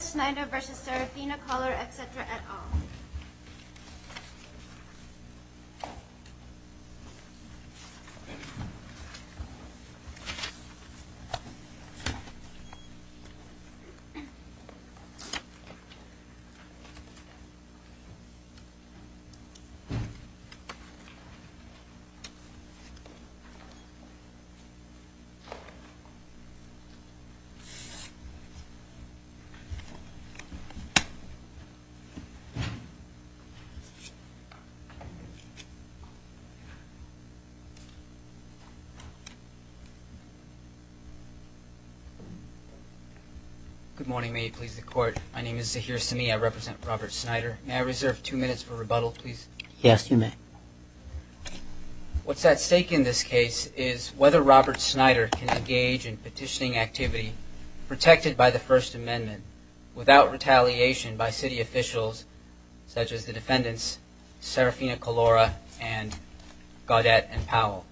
Schneider v. Seraphina, Collura, etc. et al. Good morning, may you please the court. My name is Zaheer Semih. I represent Robert Schneider. May I reserve two minutes for rebuttal, please? Yes, you may. What's at stake in this case is whether Robert Schneider can engage in petitioning activity protected by the First Amendment without retaliation by city officials such as the defendants Seraphina Collura and Gaudette and Powell.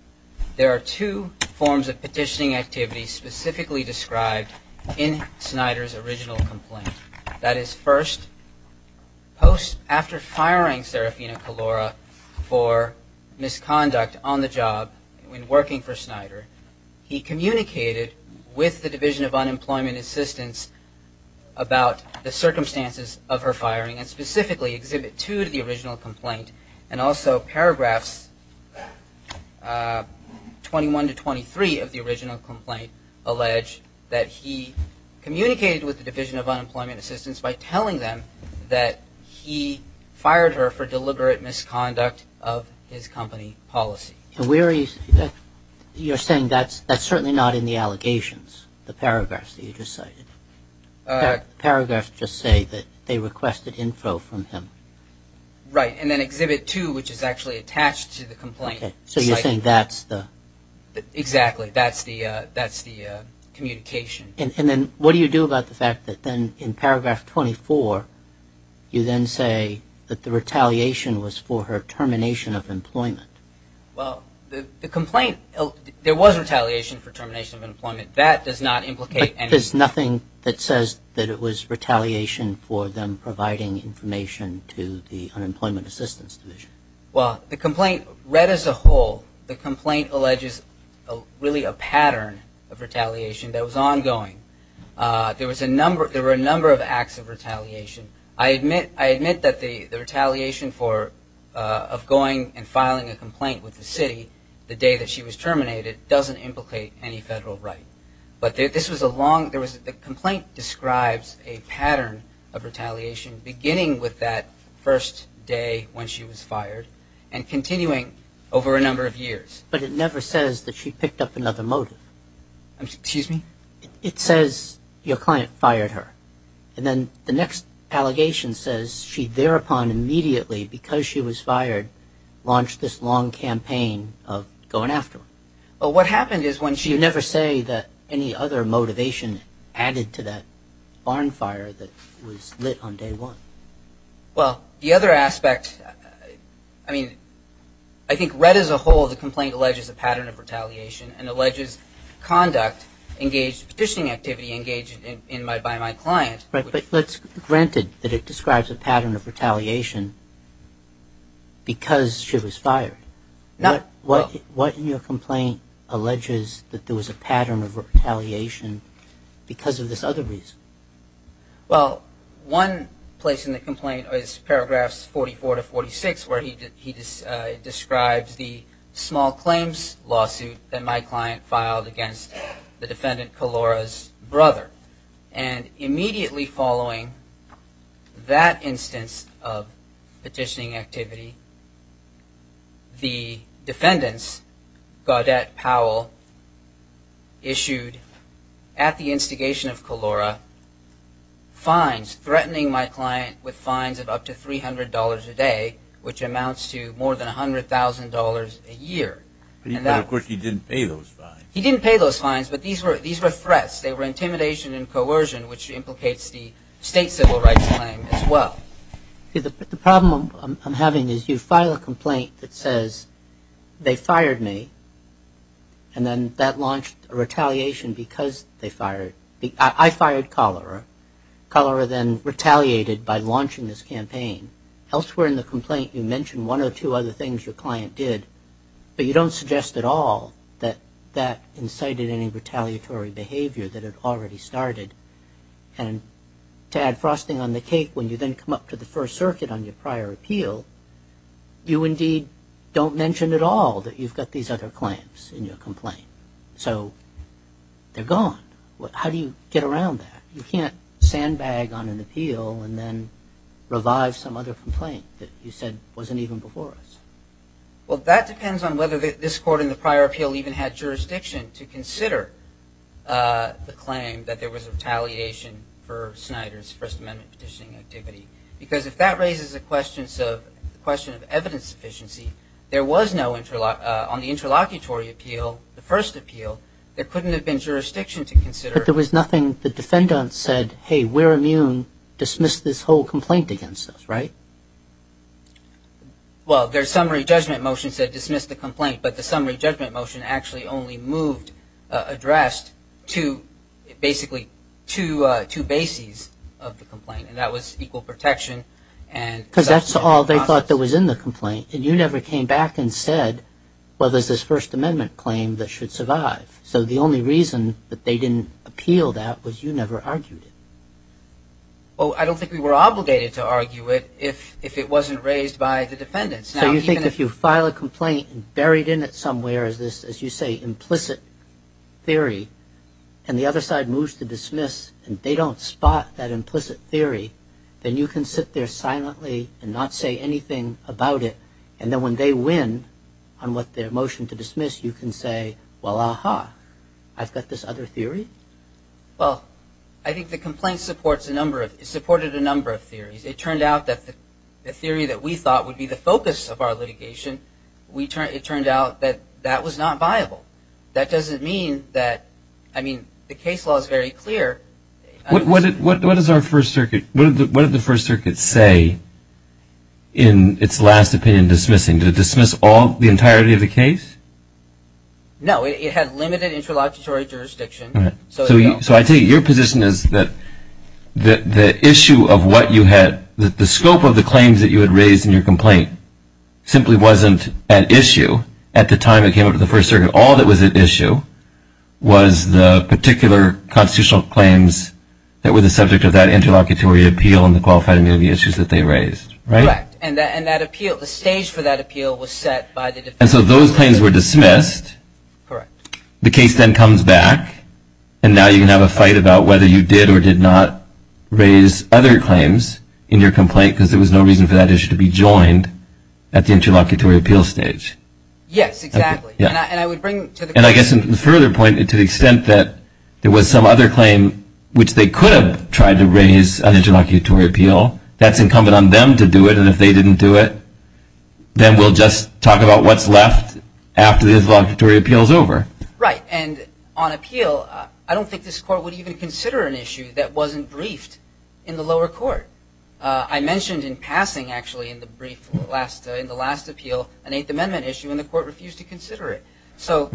There are two forms of petitioning activity specifically described in Schneider's original complaint. That is, first, after firing Seraphina Collura for misconduct on the job when working for Schneider, he communicated with the Division of Unemployment Assistance about the circumstances of her firing and specifically Exhibit 2 of the original complaint and also paragraphs 21 to 23 of the original complaint allege that he communicated with the Division of Unemployment Assistance by telling them that he fired her for deliberate misconduct of his company policy. You're saying that's certainly not in the allegations, the paragraphs that you just cited. The paragraphs just say that they requested info from him. Right, and then Exhibit 2, which is actually attached to the complaint. So you're saying that's the... Exactly, that's the communication. And then what do you do about the fact that then in paragraph 24 you then say that the retaliation was for her termination of employment? Well, the complaint, there was retaliation for termination of employment. That does not implicate anything. But there's nothing that says that it was retaliation for them providing information to the Unemployment Assistance Division. Well, the complaint read as a whole, the complaint alleges really a pattern of retaliation that was ongoing. There were a number of acts of retaliation. I admit that the retaliation of going and filing a complaint with the city the day that she was terminated doesn't implicate any federal right. But this was a long... The complaint describes a pattern of retaliation beginning with that first day when she was fired and continuing over a number of years. But it never says that she picked up another motive. Excuse me? It says your client fired her. And then the next allegation says she thereupon immediately, because she was fired, launched this long campaign of going after her. But what happened is when she... You never say that any other motivation added to that barn fire that was lit on day one. Well, the other aspect... I mean, I think read as a whole, the complaint alleges a pattern of retaliation and alleges conduct engaged... Petitioning activity engaged by my client... Right, but let's... Granted that it describes a pattern of retaliation because she was fired. Not... What in your complaint alleges that there was a pattern of retaliation because of this other reason? Well, one place in the complaint is paragraphs 44 to 46 where he describes the small claims lawsuit that my client filed against the defendant Kalora's brother. And immediately following that instance of petitioning activity, the defendants, Gaudette Powell, issued, at the instigation of Kalora, fines, threatening my client with fines of up to $300 a day, which amounts to more than $100,000 a year. But of course he didn't pay those fines. He didn't pay those fines, but these were threats. They were intimidation and coercion, which implicates the state civil rights claim as well. The problem I'm having is you file a complaint that says, they fired me, and then that launched a retaliation because they fired... I fired Kalora. Kalora then retaliated by launching this campaign. Elsewhere in the complaint you mention one or two other things your client did, but you don't suggest at all that that incited any retaliatory behavior that had already started. And to add frosting on the cake, when you then come up to the First Circuit on your prior appeal, you indeed don't mention at all that you've got these other claims in your complaint. So they're gone. How do you get around that? You can't sandbag on an appeal and then revive some other complaint that you said wasn't even before us. Well, that depends on whether this court in the prior appeal even had jurisdiction to consider the claim that there was retaliation for Snyder's First Amendment petitioning activity. Because if that raises the question of evidence sufficiency, there was no, on the interlocutory appeal, the first appeal, there couldn't have been jurisdiction to consider... But there was nothing, the defendants said, hey, we're immune, dismiss this whole complaint against us, right? Well, their summary judgment motion said dismiss the complaint, but the summary judgment motion actually only moved, addressed, to basically two bases of the complaint, and that was equal protection and... Because that's all they thought that was in the complaint, and you never came back and said, well, there's this First Amendment claim that should survive. So the only reason that they didn't appeal that was you never argued it. Well, I don't think we were obligated to argue it if it wasn't raised by the defendants. So you think if you file a complaint and buried in it somewhere is this, as you say, implicit theory, and the other side moves to dismiss and they don't spot that implicit theory, then you can sit there silently and not say anything about it. And then when they win on what their motion to dismiss, you can say, well, aha, I've got this other theory? Well, I think the complaint supported a number of theories. It turned out that the theory that we thought would be the focus of our litigation, it turned out that that was not viable. That doesn't mean that, I mean, the case law is very clear. What did the First Circuit say in its last opinion dismissing? Did it dismiss the entirety of the case? No, it had limited interlocutory jurisdiction. So I take it your position is that the scope of the claims that you had raised in your complaint simply wasn't at issue at the time it came up to the First Circuit. All that was at issue was the particular constitutional claims that were the subject of that interlocutory appeal and the qualified immunity issues that they raised, right? Correct. And that appeal, the stage for that appeal was set by the defense. And so those claims were dismissed. Correct. The case then comes back, and now you can have a fight about whether you did or did not raise other claims in your complaint because there was no reason for that issue to be joined at the interlocutory appeal stage. Yes, exactly. And I guess in further point, to the extent that there was some other claim which they could have tried to raise on interlocutory appeal, that's incumbent on them to do it. And if they didn't do it, then we'll just talk about what's left after the interlocutory appeal is over. Right. And on appeal, I don't think this Court would even consider an issue that wasn't briefed in the lower court. I mentioned in passing, actually, in the last appeal, an Eighth Amendment issue, and the Court refused to consider it. So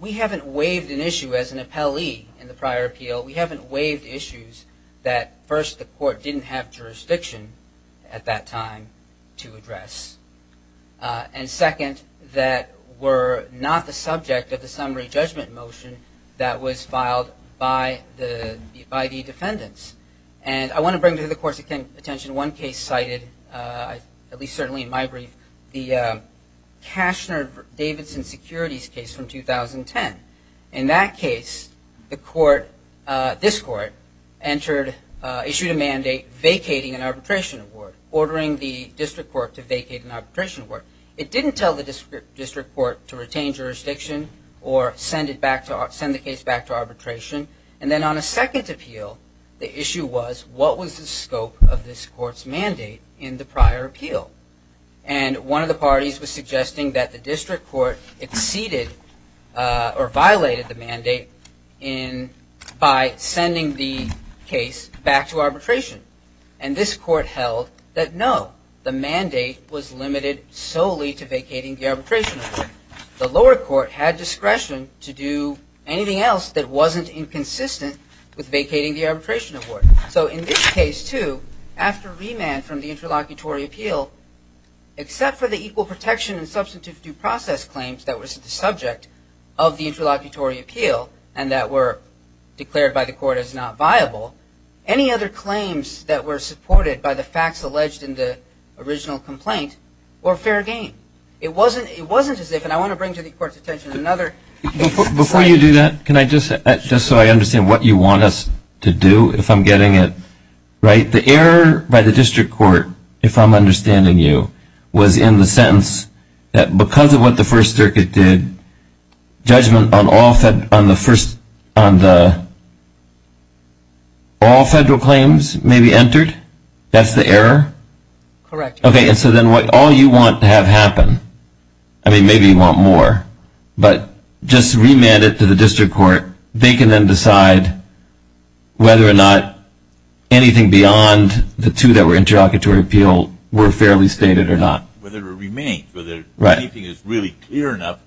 we haven't waived an issue as an appellee in the prior appeal. We haven't waived issues that, first, the Court didn't have jurisdiction at that time to address. And second, that were not the subject of the summary judgment motion that was filed by the defendants. And I want to bring to the Court's attention one case cited, at least certainly in my brief, the Cashner-Davidson securities case from 2010. In that case, this Court issued a mandate vacating an arbitration award, ordering the district court to vacate an arbitration award. It didn't tell the district court to retain jurisdiction or send the case back to arbitration. And then on a second appeal, the issue was, what was the scope of this Court's mandate in the prior appeal? And one of the parties was suggesting that the district court exceeded or violated the mandate by sending the case back to arbitration. And this Court held that, no, the mandate was limited solely to vacating the arbitration award. The lower court had discretion to do anything else that wasn't inconsistent with vacating the arbitration award. So in this case, too, after remand from the interlocutory appeal, except for the equal protection and substantive due process claims that were the subject of the interlocutory appeal, and that were declared by the Court as not viable, any other claims that were supported by the facts alleged in the original complaint were fair game. It wasn't as if, and I want to bring to the Court's attention another... Before you do that, just so I understand what you want us to do, if I'm getting it right, the error by the district court, if I'm understanding you, was in the sentence that because of what the First Circuit did, judgment on all federal claims may be entered? That's the error? Correct. Okay, and so then all you want to have happen, I mean, maybe you want more, but just remand it to the district court, they can then decide whether or not anything beyond the two that were interlocutory appeal were fairly stated or not. Whether it remains, whether anything is really clear enough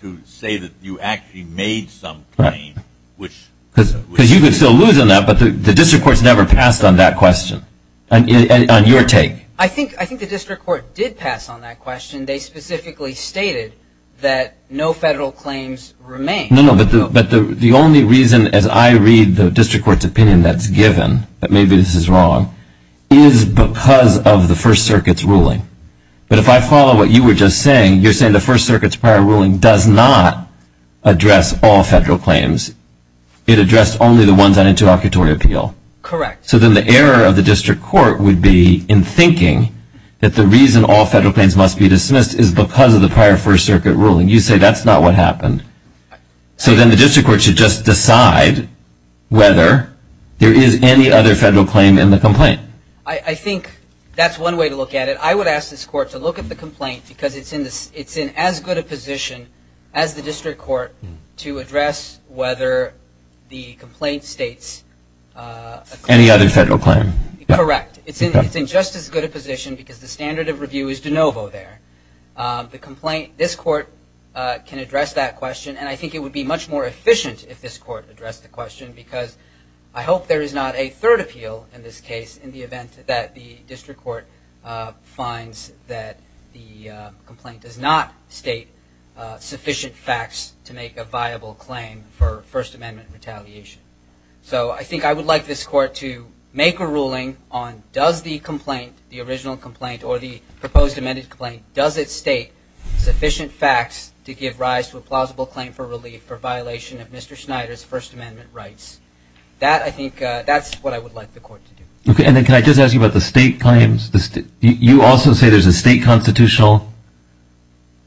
to say that you actually made some claim. Because you could still lose on that, but the district court's never passed on that question, on your take. I think the district court did pass on that question. They specifically stated that no federal claims remain. No, no, but the only reason, as I read the district court's opinion that's given, that maybe this is wrong, is because of the First Circuit's ruling. But if I follow what you were just saying, you're saying the First Circuit's prior ruling does not address all federal claims. It addressed only the ones on interlocutory appeal. Correct. So then the error of the district court would be in thinking that the reason all federal claims must be dismissed is because of the prior First Circuit ruling. You say that's not what happened. So then the district court should just decide whether there is any other federal claim in the complaint. I think that's one way to look at it. I would ask this court to look at the complaint because it's in as good a position as the district court to address whether the complaint states... Any other federal claim. Correct. It's in just as good a position because the standard of review is de novo there. This court can address that question, and I think it would be much more efficient if this court addressed the question because I hope there is not a third appeal in this case in the event that the district court finds that the complaint does not state sufficient facts to make it a viable claim for First Amendment retaliation. So I think I would like this court to make a ruling on does the complaint, the original complaint or the proposed amended complaint, does it state sufficient facts to give rise to a plausible claim for relief for violation of Mr. Schneider's First Amendment rights. That, I think, that's what I would like the court to do. And then can I just ask you about the state claims? You also say there's a state constitutional...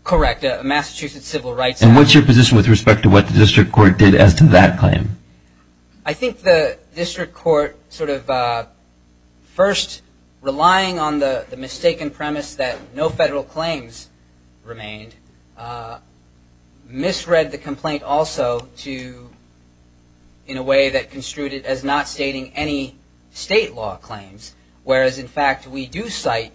Correct. A Massachusetts Civil Rights Act. And what's your position with respect to what the district court did as to that claim? I think the district court sort of first relying on the mistaken premise that no federal claims remained, misread the complaint also in a way that construed it as not stating any state law claims, whereas in fact we do cite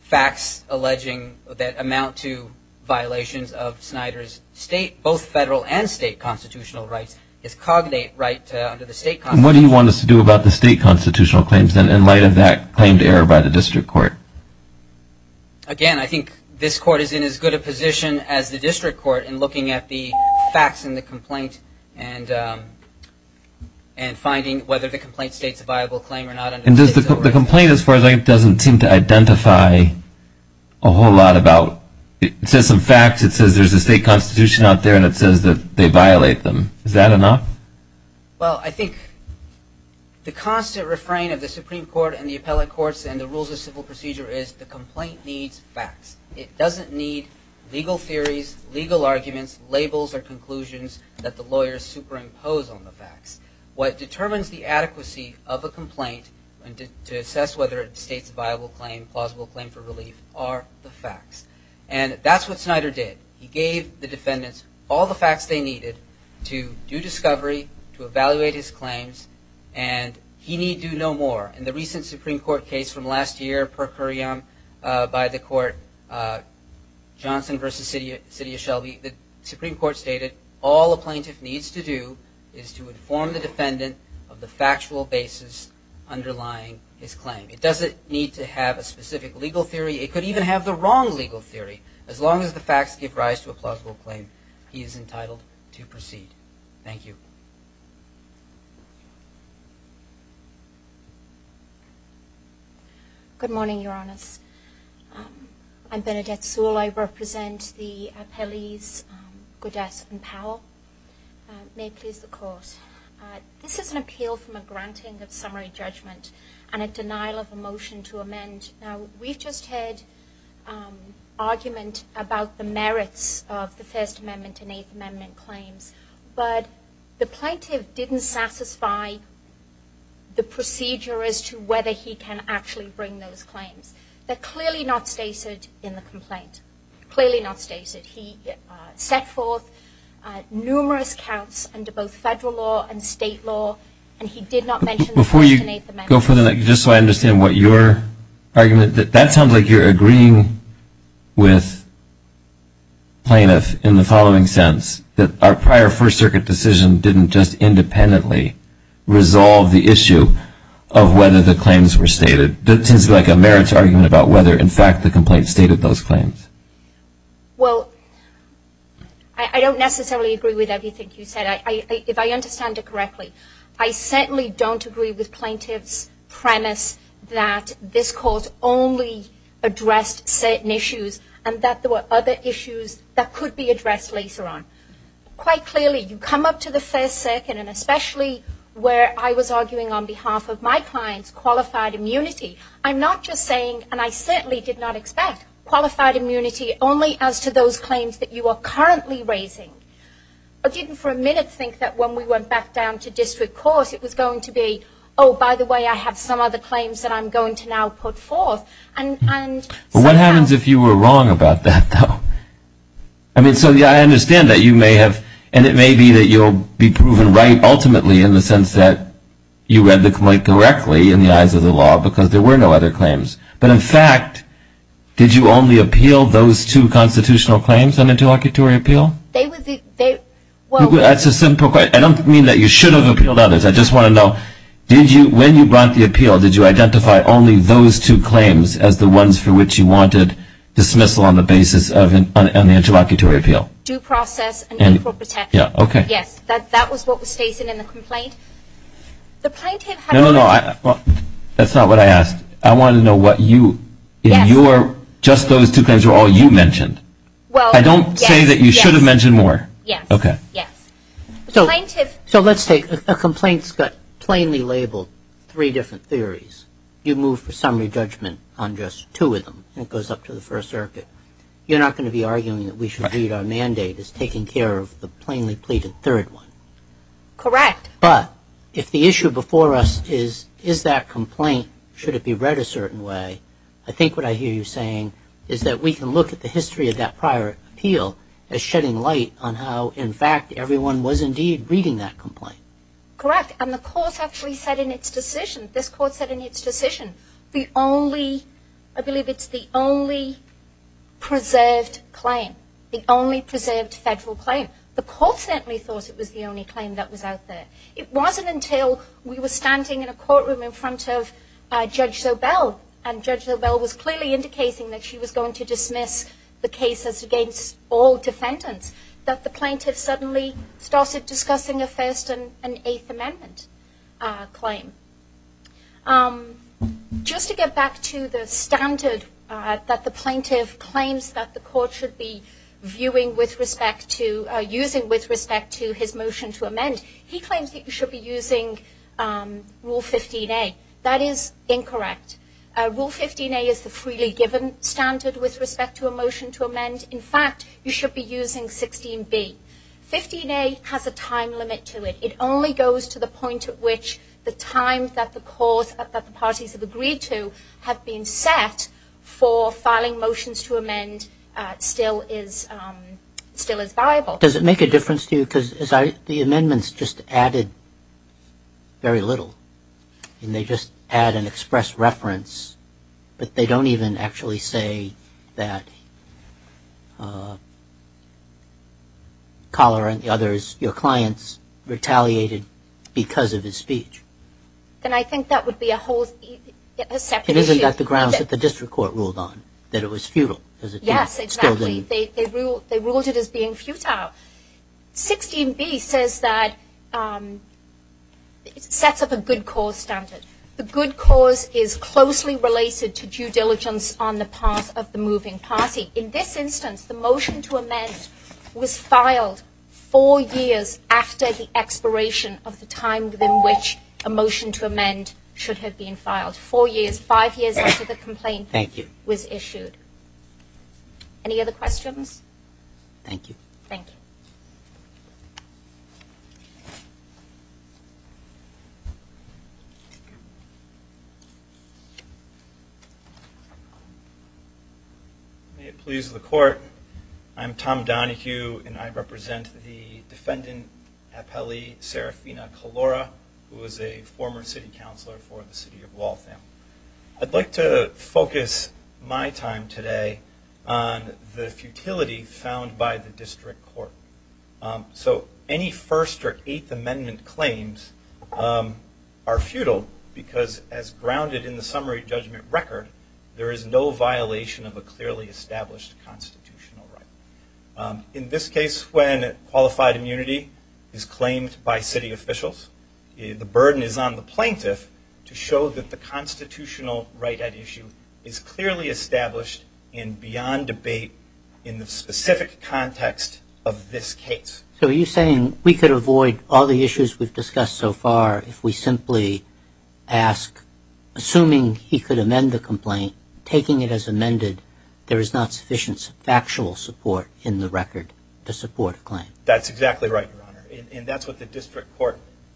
facts alleging that amount to violations of Schneider's state, both federal and state constitutional rights, his cognate right under the state constitution. What do you want us to do about the state constitutional claims in light of that claimed error by the district court? Again, I think this court is in as good a position as the district court in looking at the facts in the complaint and finding whether the complaint states a viable claim or not. And the complaint, as far as I can tell, doesn't seem to identify a whole lot about... It says some facts, it says there's a state constitution out there, and it says that they violate them. Is that enough? Well, I think the constant refrain of the Supreme Court and the appellate courts and the rules of civil procedure is the complaint needs facts. It doesn't need legal theories, legal arguments, labels or conclusions that the lawyers superimpose on the facts. What determines the adequacy of a complaint to assess whether it states a viable claim, plausible claim for relief, are the facts. And that's what Snyder did. He gave the defendants all the facts they needed to do discovery, to evaluate his claims, and he need do no more. In the recent Supreme Court case from last year, per curiam, by the court Johnson v. City of Shelby, the Supreme Court stated all a plaintiff needs to do is to inform the defendant of the factual basis underlying his claim. It doesn't need to have a specific legal theory. It could even have the wrong legal theory. As long as the facts give rise to a plausible claim, he is entitled to proceed. Thank you. Good morning, Your Honors. I'm Bernadette Sewell. I represent the appellees, Godet and Powell. May it please the Court. This is an appeal from a granting of summary judgment and a denial of a motion to amend. Now, we've just heard argument about the merits of the First Amendment and Eighth Amendment claims, but the plaintiff didn't satisfy the procedure as to whether he can actually bring those claims. They're clearly not stated in the complaint. Clearly not stated. He set forth numerous counts under both federal law and state law, and he did not mention the First Amendment. Before you go for the next, just so I understand what your argument, that sounds like you're agreeing with plaintiffs in the following sense, that our prior First Circuit decision didn't just independently resolve the issue of whether the claims were stated. That seems like a merits argument about whether, in fact, the complaint stated those claims. Well, I don't necessarily agree with everything you said, if I understand it correctly. I certainly don't agree with plaintiff's premise that this Court only addressed certain issues and that there were other issues that could be addressed later on. Quite clearly, you come up to the First Circuit, and especially where I was arguing on behalf of my clients, qualified immunity. I'm not just saying, and I certainly did not expect, qualified immunity only as to those claims that you are currently raising. I didn't for a minute think that when we went back down to district courts, it was going to be, oh, by the way, I have some other claims that I'm going to now put forth. What happens if you were wrong about that, though? I mean, so I understand that you may have, and it may be that you'll be proven right ultimately in the sense that you read the complaint correctly in the eyes of the law because there were no other claims. But, in fact, did you only appeal those two constitutional claims on interlocutory appeal? I don't mean that you should have appealed others. I just want to know, when you brought the appeal, did you identify only those two claims as the ones for which you wanted dismissal on the basis of an interlocutory appeal? Due process and equal protection. Yes, that was what was stated in the complaint. No, no, no, that's not what I asked. I wanted to know what you, in your, just those two claims were all you mentioned. I don't say that you should have mentioned more. So let's take, a complaint's got plainly labeled three different theories. You move for summary judgment on just two of them, and it goes up to the First Circuit. You're not going to be arguing that we should read our mandate as taking care of the plainly pleaded third one? Correct. But, if the issue before us is, is that complaint, should it be read a certain way, I think what I hear you saying is that we can look at the history of that prior appeal as shedding light on how, in fact, everyone was indeed reading that complaint. Correct, and the court actually said in its decision, this court said in its decision, the only, I believe it's the only preserved claim, the only preserved federal claim. The court certainly thought it was the only claim that was out there. It wasn't until we were standing in a courtroom in front of Judge Sobel, and Judge Sobel was clearly indicating that she was going to be using a First and Eighth Amendment claim. Just to get back to the standard that the plaintiff claims that the court should be viewing with respect to, using with respect to his motion to amend, he claims that you should be using Rule 15a. That is incorrect. Rule 15a is the freely given standard with respect to a motion to amend. In fact, you should be using 16b. 15a has a time limit to it. It only goes to the point at which the time that the court, that the parties have agreed to have been set for filing motions to amend still is, still is viable. Does it make a difference to you? Because the amendments just added very little. And they just add an express reference, but they don't even actually say that Collar and the others, your clients, retaliated because of his speech. Then I think that would be a whole separate issue. Isn't that the grounds that the district court ruled on? That it was futile? Yes, exactly. They ruled it as being futile. 16b says that, sets up a good cause standard. The good cause is closely related to due diligence on the part of the moving party. In this instance, the motion to amend was filed four years after the expiration of the time within which a motion to amend should have been filed. Four years, five years after the complaint was issued. Any other questions? Thank you. Thank you. May it please the court. I'm Tom Donohue and I represent the defendant I'd like to focus my time today on the futility found by the district court. So any First or Eighth Amendment claims are futile because as grounded in the summary judgment record, there is no violation of a clearly established constitutional right. In this case, when qualified immunity is claimed by city officials, the burden is on the plaintiff to show that the constitutional right at issue is clearly established and beyond debate in the specific context of this case. So are you saying we could avoid all the issues we've discussed so far if we simply ask, assuming he could amend the complaint, taking it as amended, there is not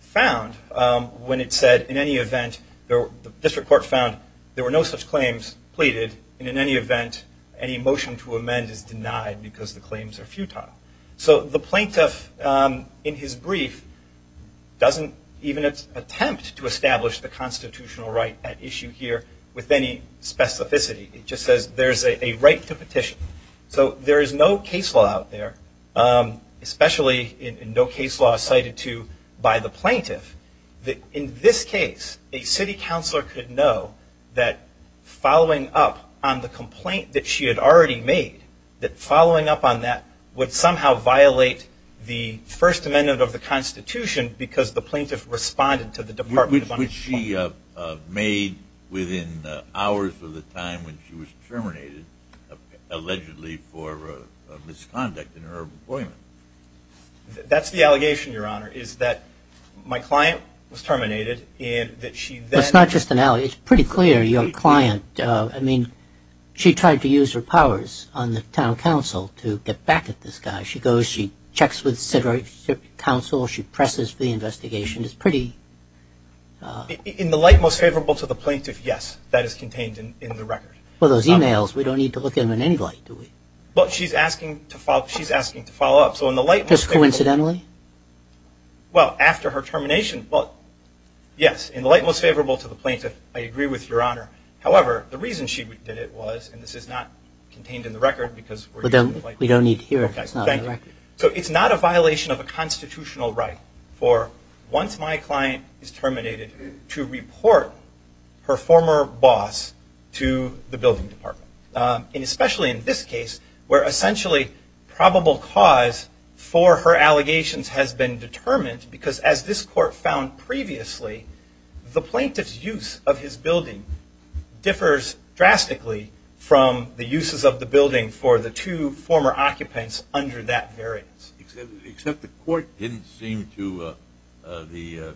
found when it said in any event, the district court found there were no such claims pleaded. And in any event, any motion to amend is denied because the claims are futile. So the plaintiff in his brief doesn't even attempt to establish the constitutional right at issue here with any specificity. It just says there's a right to petition. So there is no case law out there, especially in no case law cited to by the plaintiff, that in this case, a city counselor could know that following up on the complaint that she had already made, that following up on that would somehow violate the First Amendment of the Constitution because the plaintiff responded to the Department of of misconduct in her appointment. That's the allegation, Your Honor, is that my client was terminated and that she then... It's not just an allegation. It's pretty clear. Your client, I mean, she tried to use her powers on the town council to get back at this guy. She goes, she checks with the city council. She presses for the investigation. It's pretty... In the light most favorable to the plaintiff, yes, that is contained in the record. Well, those emails, we don't need to look at them in any light, do we? She's asking to follow up. Just coincidentally? Well, after her termination, yes, in the light most favorable to the plaintiff, I agree with Your Honor. However, the reason she did it was, and this is not contained in the record because... We don't need to hear it. It's not in the record. for once my client is terminated to report her former boss to the building department. And especially in this case where essentially probable cause for her allegations has been determined because as this court found previously, the plaintiff's use of his building differs drastically from the uses of the building for the two former occupants under that variance. Except the court didn't seem to, the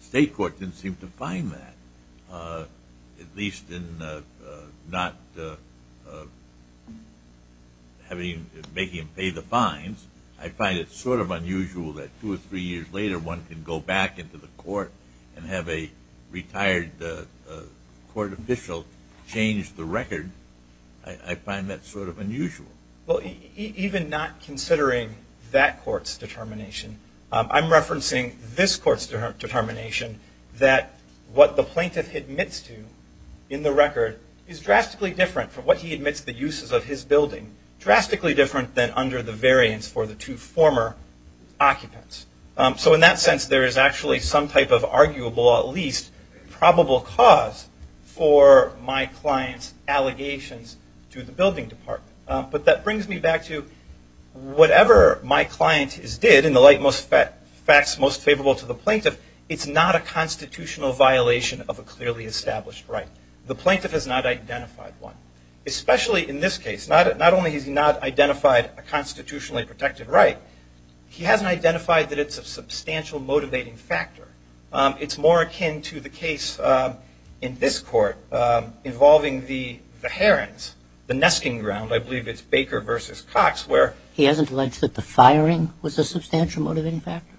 state court didn't seem to find that. At least in not having, making him pay the fines. I find it sort of unusual that two or three years later one can go back into the court and have a retired court official change the record. I find that sort of unusual. Well, even not considering that court's determination, I'm referencing this court's determination that what the plaintiff admits to in the record is drastically different from what he admits the uses of his building. Drastically different than under the variance for the two former occupants. So in that sense there is actually some type of arguable at least probable cause for my client's allegations to the building department. But that brings me back to whatever my client did in the light most facts most favorable to the plaintiff, it's not a constitutional violation of a clearly established right. The plaintiff has not identified one. Especially in this case. Not only has he not identified a constitutionally protected right, he hasn't identified that it's a substantial motivating factor. It's more akin to the case in this court involving the Herons, the nesting ground, I believe it's Baker versus Cox, where... He hasn't alleged that the firing was a substantial motivating factor?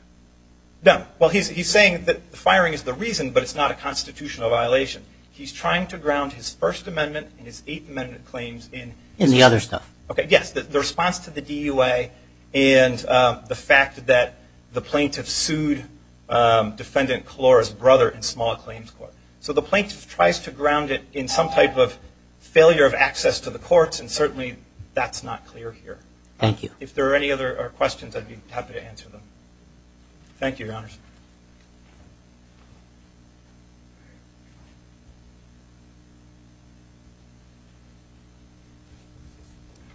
No. Well, he's saying that the firing is the reason, but it's not a constitutional violation. He's trying to ground his First Amendment and his Eighth Amendment claims in... In the other stuff. Yes, the response to the DUA and the fact that the plaintiff sued defendant Kalora's brother in Small Claims Court. So the plaintiff tries to ground it in some type of failure of access to the courts and certainly that's not clear here. Thank you. If there are any other questions I'd be happy to answer them. Thank you, Your Honors.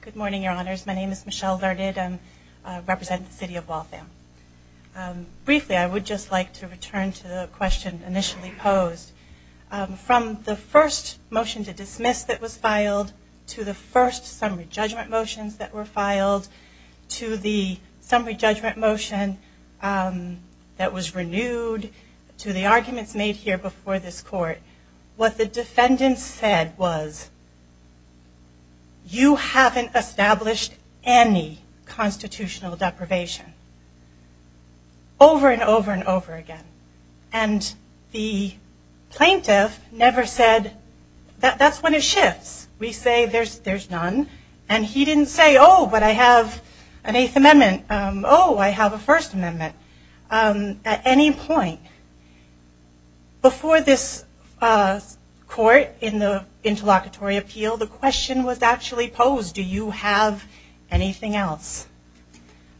Good morning, Your Honors. My name is Michelle Larded. I represent the city of Waltham. Briefly, I would just like to return to the question initially posed. From the first motion to dismiss that was filed to the first summary judgment motions that were filed to the summary judgment motion that was renewed to the arguments made here before this court, what the defendant said was, you haven't established any constitutional deprivation. Over and over and over again. And the plaintiff never said, that's when it shifts. We say there's none. And he didn't say, oh, but I have an Eighth Amendment. Oh, I have a First Amendment. At any point before this court in the interlocutory appeal, the question was actually posed, do you have anything else?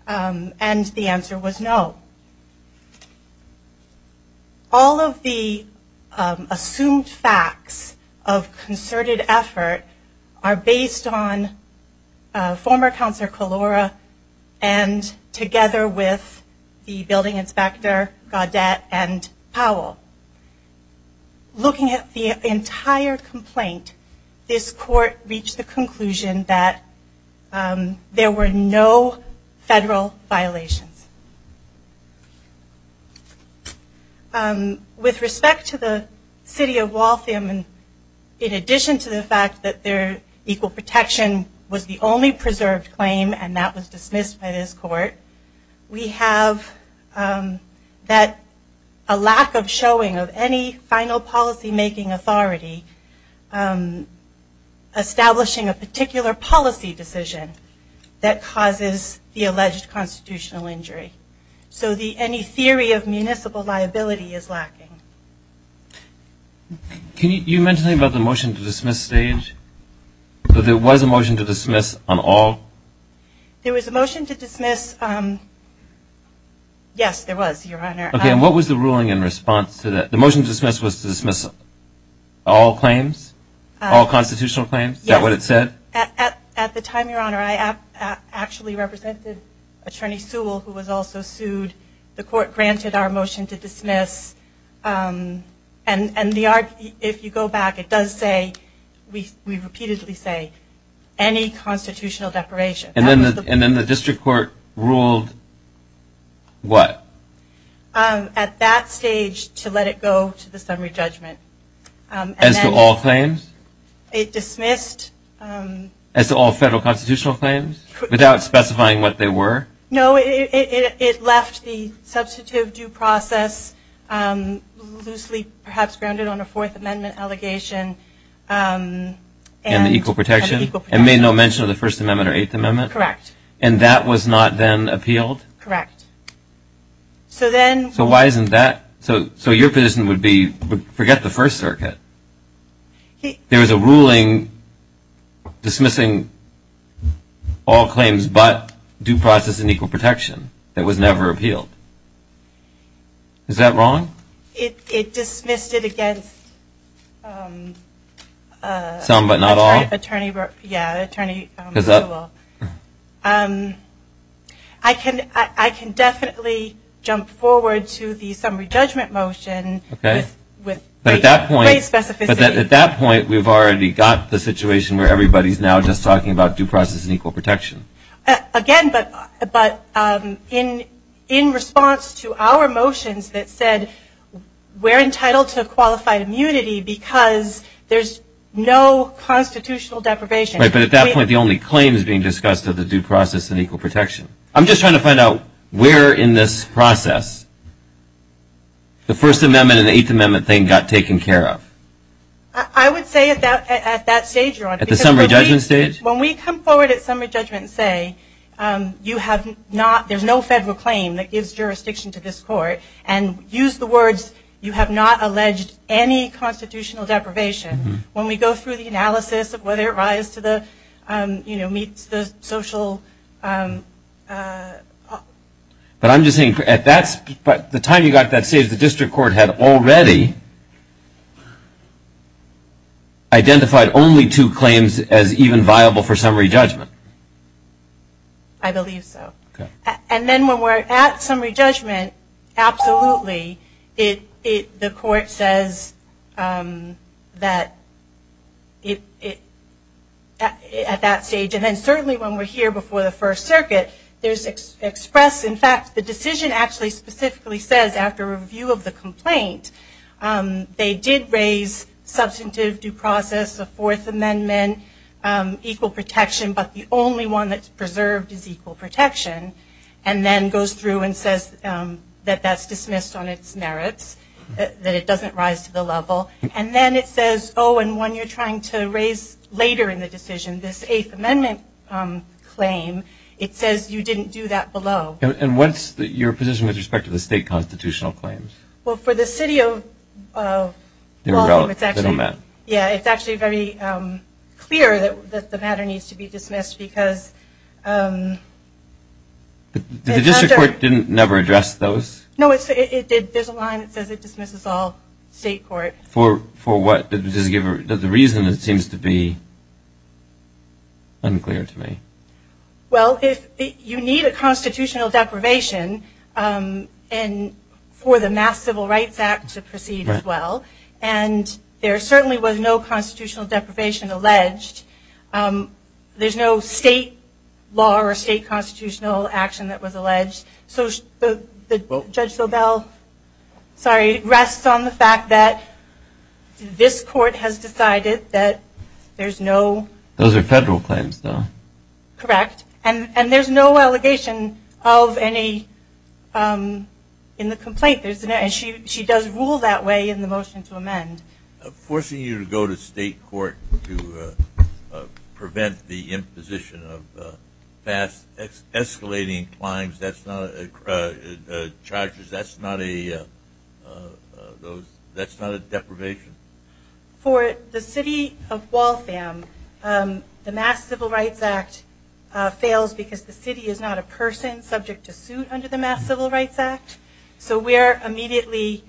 And the answer was no. All of the assumed facts of concerted effort are based on former Counselor Kalora and together with the Building Inspector Gaudette and Powell. Looking at the entire complaint, this court reached the conclusion that there were no federal violations. With respect to the city of Waltham, in addition to the fact that their equal protection was the only preserved claim and that was dismissed by this court, we have a lack of showing of any final policymaking authority establishing a particular policy decision that causes the alleged constitutional injury. So any theory of municipal liability is lacking. Can you mention anything about the motion to dismiss stage? There was a motion to dismiss on all? There was a motion to dismiss. Yes, there was, Your Honor. Okay, and what was the ruling in response to that? The motion to dismiss was to dismiss all claims? All constitutional claims? Is that what it said? At the time, Your Honor, I actually represented Attorney Sewell, who was also sued. The court granted our motion to dismiss. And if you go back, it does say, we repeatedly say, any constitutional declaration. And then the district court ruled what? At that stage, to let it go to the summary judgment. As to all claims? It dismissed. As to all federal constitutional claims? Without specifying what they were? No, it left the substantive due process loosely perhaps grounded on a Fourth Amendment allegation. And the equal protection? And made no mention of the First Amendment or Eighth Amendment? Correct. And that was not then appealed? Correct. So why isn't that? So your position would be, forget the First Circuit. There was a ruling dismissing all claims but due process and equal protection that was never appealed. Is that wrong? It dismissed it against. Some but not all? Yeah, Attorney Sewell. I can definitely jump forward to the summary judgment motion. But at that point, we've already got the situation where everybody's now just talking about due process and equal protection. Again, but in response to our motions that said we're entitled to qualified immunity because there's no constitutional deprivation. Right, but at that point, the only claim is being discussed of the due process and equal protection. I'm just trying to find out where in this process. The First Amendment and the Eighth Amendment thing got taken care of. I would say at that stage, Your Honor. At the summary judgment stage? When we come forward at summary judgment and say, you have not, there's no federal claim that gives jurisdiction to this court, and use the words, you have not alleged any constitutional deprivation. When we go through the analysis of whether it rise to the, you know, meets the social. But I'm just saying at that, the time you got that stage, the district court had already identified only two claims as even viable for summary judgment. I believe so. And then when we're at summary judgment, absolutely. The court says that at that stage, and then certainly when we're here before the First Circuit, there's expressed, in fact, the decision actually specifically says after review of the complaint, they did raise substantive due process, the Fourth Amendment, equal protection, but the only one that's preserved is equal protection. And then goes through and says that that's dismissed on its merits, that it doesn't rise to the level. And then it says, oh, and one you're trying to raise later in the decision, this Eighth Amendment claim, it says you didn't do that below. And what's your position with respect to the state constitutional claims? Well, for the city of Baltimore, it's actually very clear that the matter needs to be dismissed, because the district court didn't never address those? No, there's a line that says it dismisses all state court. For what? Does the reason, it seems to be unclear to me. Well, you need a constitutional deprivation for the Mass Civil Rights Act to proceed as well. And there certainly was no constitutional deprivation alleged. There's no state law or state constitutional action that was alleged. So Judge Sobel, sorry, rests on the fact that this court has decided that there's no- Those are federal claims, though. Correct. And there's no allegation of any in the complaint. Forcing you to go to state court to prevent the imposition of escalating charges, that's not a deprivation? For the city of Waltham, the Mass Civil Rights Act fails because the city is not a person subject to suit under the Mass Civil Rights Act. So we are immediately-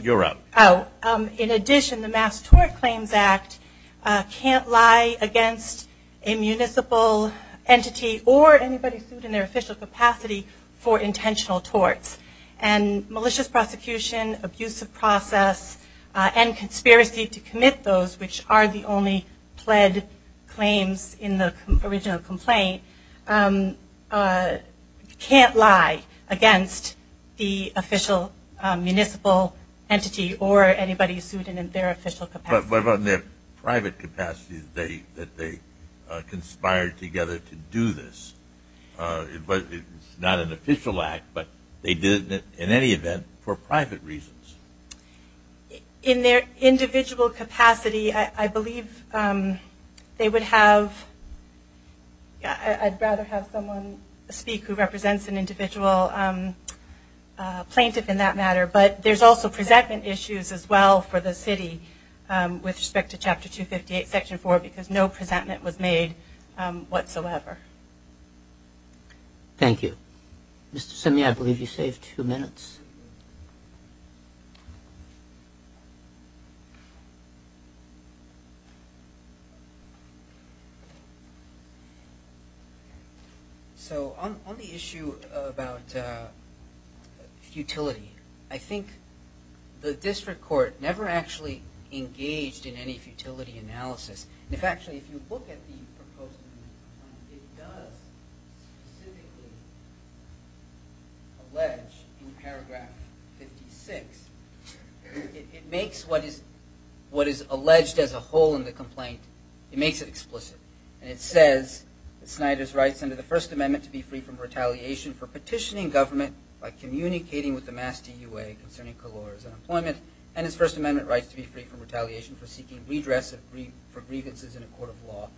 You're up. In addition, the Mass Tort Claims Act can't lie against a municipal entity or anybody sued in their official capacity for intentional torts. And malicious prosecution, abusive process, and conspiracy to commit those, which are the only pled claims in the original complaint, can't lie against the official municipal entity or anybody sued in their official capacity. But in their private capacity, they conspired together to do this. It's not an official act, but they did it in any event for private reasons. In their individual capacity, I believe they would have- I'd rather have someone speak who represents an individual plaintiff in that matter. But there's also presentment issues as well for the city with respect to Chapter 258, Section 4, because no presentment was made whatsoever. Thank you. Mr. Simney, I believe you saved two minutes. So on the issue about futility, I think the district court never actually engaged in any futility analysis. In fact, if you look at the proposed amendment, it does specifically allege in Paragraph 56, it makes what is alleged as a whole in the complaint, it makes it explicit. And it says that Snyder's rights under the First Amendment to be free from retaliation for petitioning government by communicating with the Mass TUA concerning Calora's unemployment, and his First Amendment rights to be free from retaliation for seeking redress for grievances in a court of law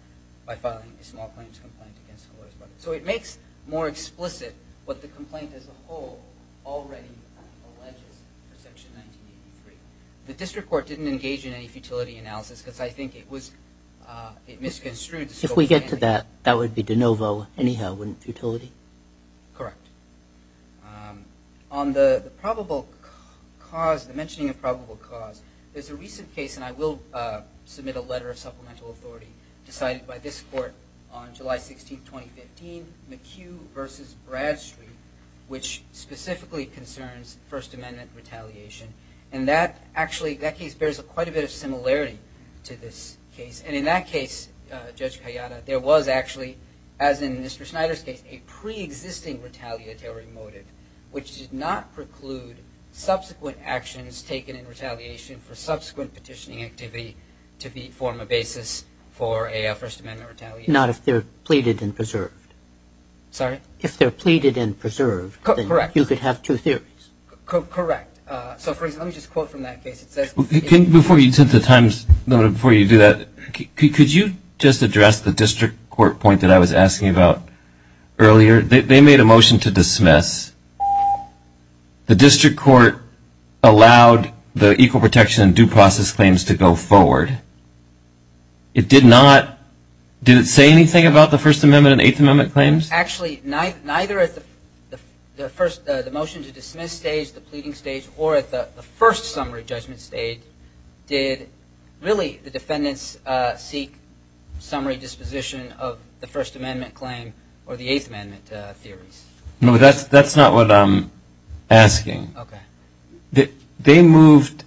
by filing a small claims complaint against Calora's brother. So it makes more explicit what the complaint as a whole already alleges for Section 1983. The district court didn't engage in any futility analysis because I think it misconstrued- If we get to that, that would be de novo, anyhow, wouldn't futility? Correct. On the probable cause, the mentioning of probable cause, there's a recent case, and I will submit a letter of supplemental authority decided by this court on July 16, 2015, McHugh v. Bradstreet, which specifically concerns First Amendment retaliation. And that actually, that case bears quite a bit of similarity to this case. And in that case, Judge Kayada, there was actually, as in Mr. Snyder's case, a preexisting retaliatory motive, which did not preclude subsequent actions taken in retaliation for subsequent petitioning activity to form a basis for a First Amendment retaliation. Not if they're pleaded and preserved. Sorry? If they're pleaded and preserved- Correct. You could have two theories. Correct. So, for example, let me just quote from that case. Before you do that, could you just address the district court point that I was asking about earlier? They made a motion to dismiss. The district court allowed the equal protection and due process claims to go forward. It did not, did it say anything about the First Amendment and Eighth Amendment claims? Actually, neither at the motion to dismiss stage, the pleading stage, or at the first summary judgment stage, did really the defendants seek summary disposition of the First Amendment claim or the Eighth Amendment theories. No, but that's not what I'm asking. Okay. They moved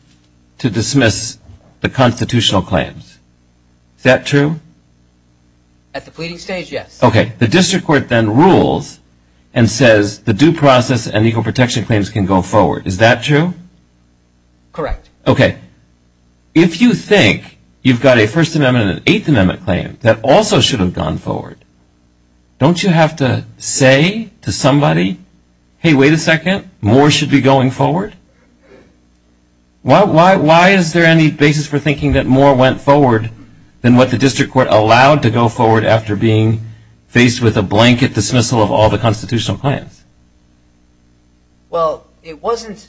to dismiss the constitutional claims. Is that true? At the pleading stage, yes. Okay. The district court then rules and says the due process and equal protection claims can go forward. Is that true? Correct. Okay. If you think you've got a First Amendment and an Eighth Amendment claim that also should have gone forward, don't you have to say to somebody, hey, wait a second, more should be going forward? Why is there any basis for thinking that more went forward than what the district court allowed to go forward after being faced with a blanket dismissal of all the constitutional claims? Well, it wasn't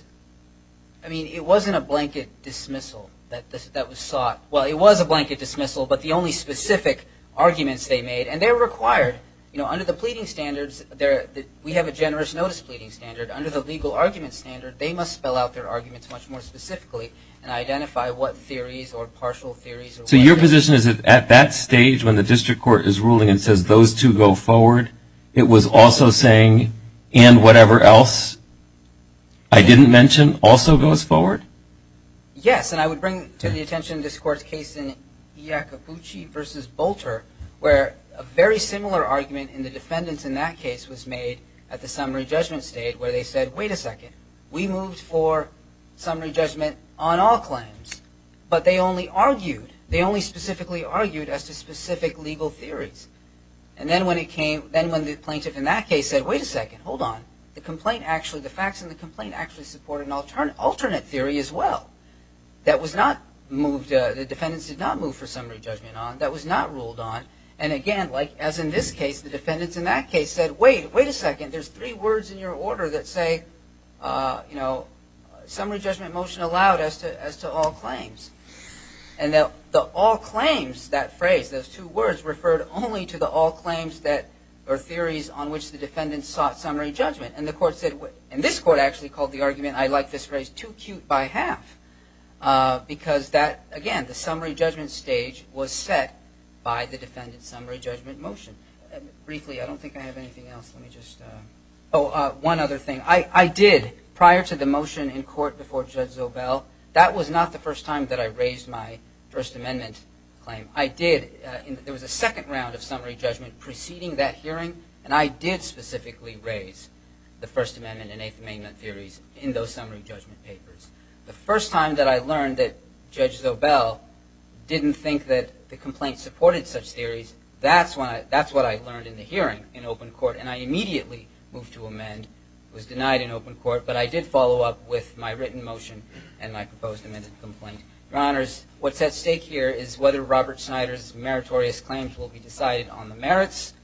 a blanket dismissal that was sought. Well, it was a blanket dismissal, but the only specific arguments they made, and they were required. Under the pleading standards, we have a generous notice pleading standard. Under the legal argument standard, they must spell out their arguments much more specifically and identify what theories or partial theories. So your position is that at that stage when the district court is ruling and says those two go forward, it was also saying and whatever else I didn't mention also goes forward? Yes, and I would bring to the attention this court's case in Iacobucci v. Bolter where a very similar argument in the defendants in that case was made at the summary judgment stage where they said, wait a second, we moved for summary judgment on all claims. But they only argued, they only specifically argued as to specific legal theories. And then when the plaintiff in that case said, wait a second, hold on, the complaint actually, the facts in the complaint actually support an alternate theory as well. That was not moved, the defendants did not move for summary judgment on, that was not ruled on. And again, as in this case, the defendants in that case said, wait, wait a second, there's three words in your order that say summary judgment motion allowed as to all claims. And the all claims, that phrase, those two words referred only to the all claims or theories on which the defendants sought summary judgment. And the court said, and this court actually called the argument, I like this phrase, too cute by half because that, again, the summary judgment stage was set by the defendants' summary judgment motion. Briefly, I don't think I have anything else. Let me just, oh, one other thing. I did, prior to the motion in court before Judge Zobel, that was not the first time that I raised my First Amendment claim. I did, there was a second round of summary judgment preceding that hearing, and I did specifically raise the First Amendment and Eighth Amendment theories in those summary judgment papers. The first time that I learned that Judge Zobel didn't think that the complaint supported such theories, that's what I learned in the hearing in open court, and I immediately moved to amend. It was denied in open court, but I did follow up with my written motion and my proposed amended complaint. Your Honors, what's at stake here is whether Robert Snyder's meritorious claims will be decided on the merits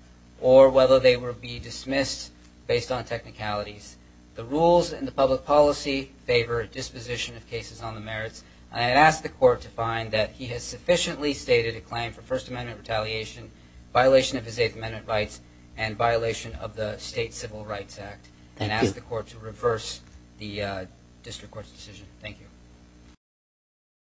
or whether they will be dismissed based on technicalities. The rules in the public policy favor disposition of cases on the merits. I ask the court to find that he has sufficiently stated a claim for First Amendment retaliation, violation of his Eighth Amendment rights, and violation of the State Civil Rights Act, and ask the court to reverse the district court's decision. Thank you.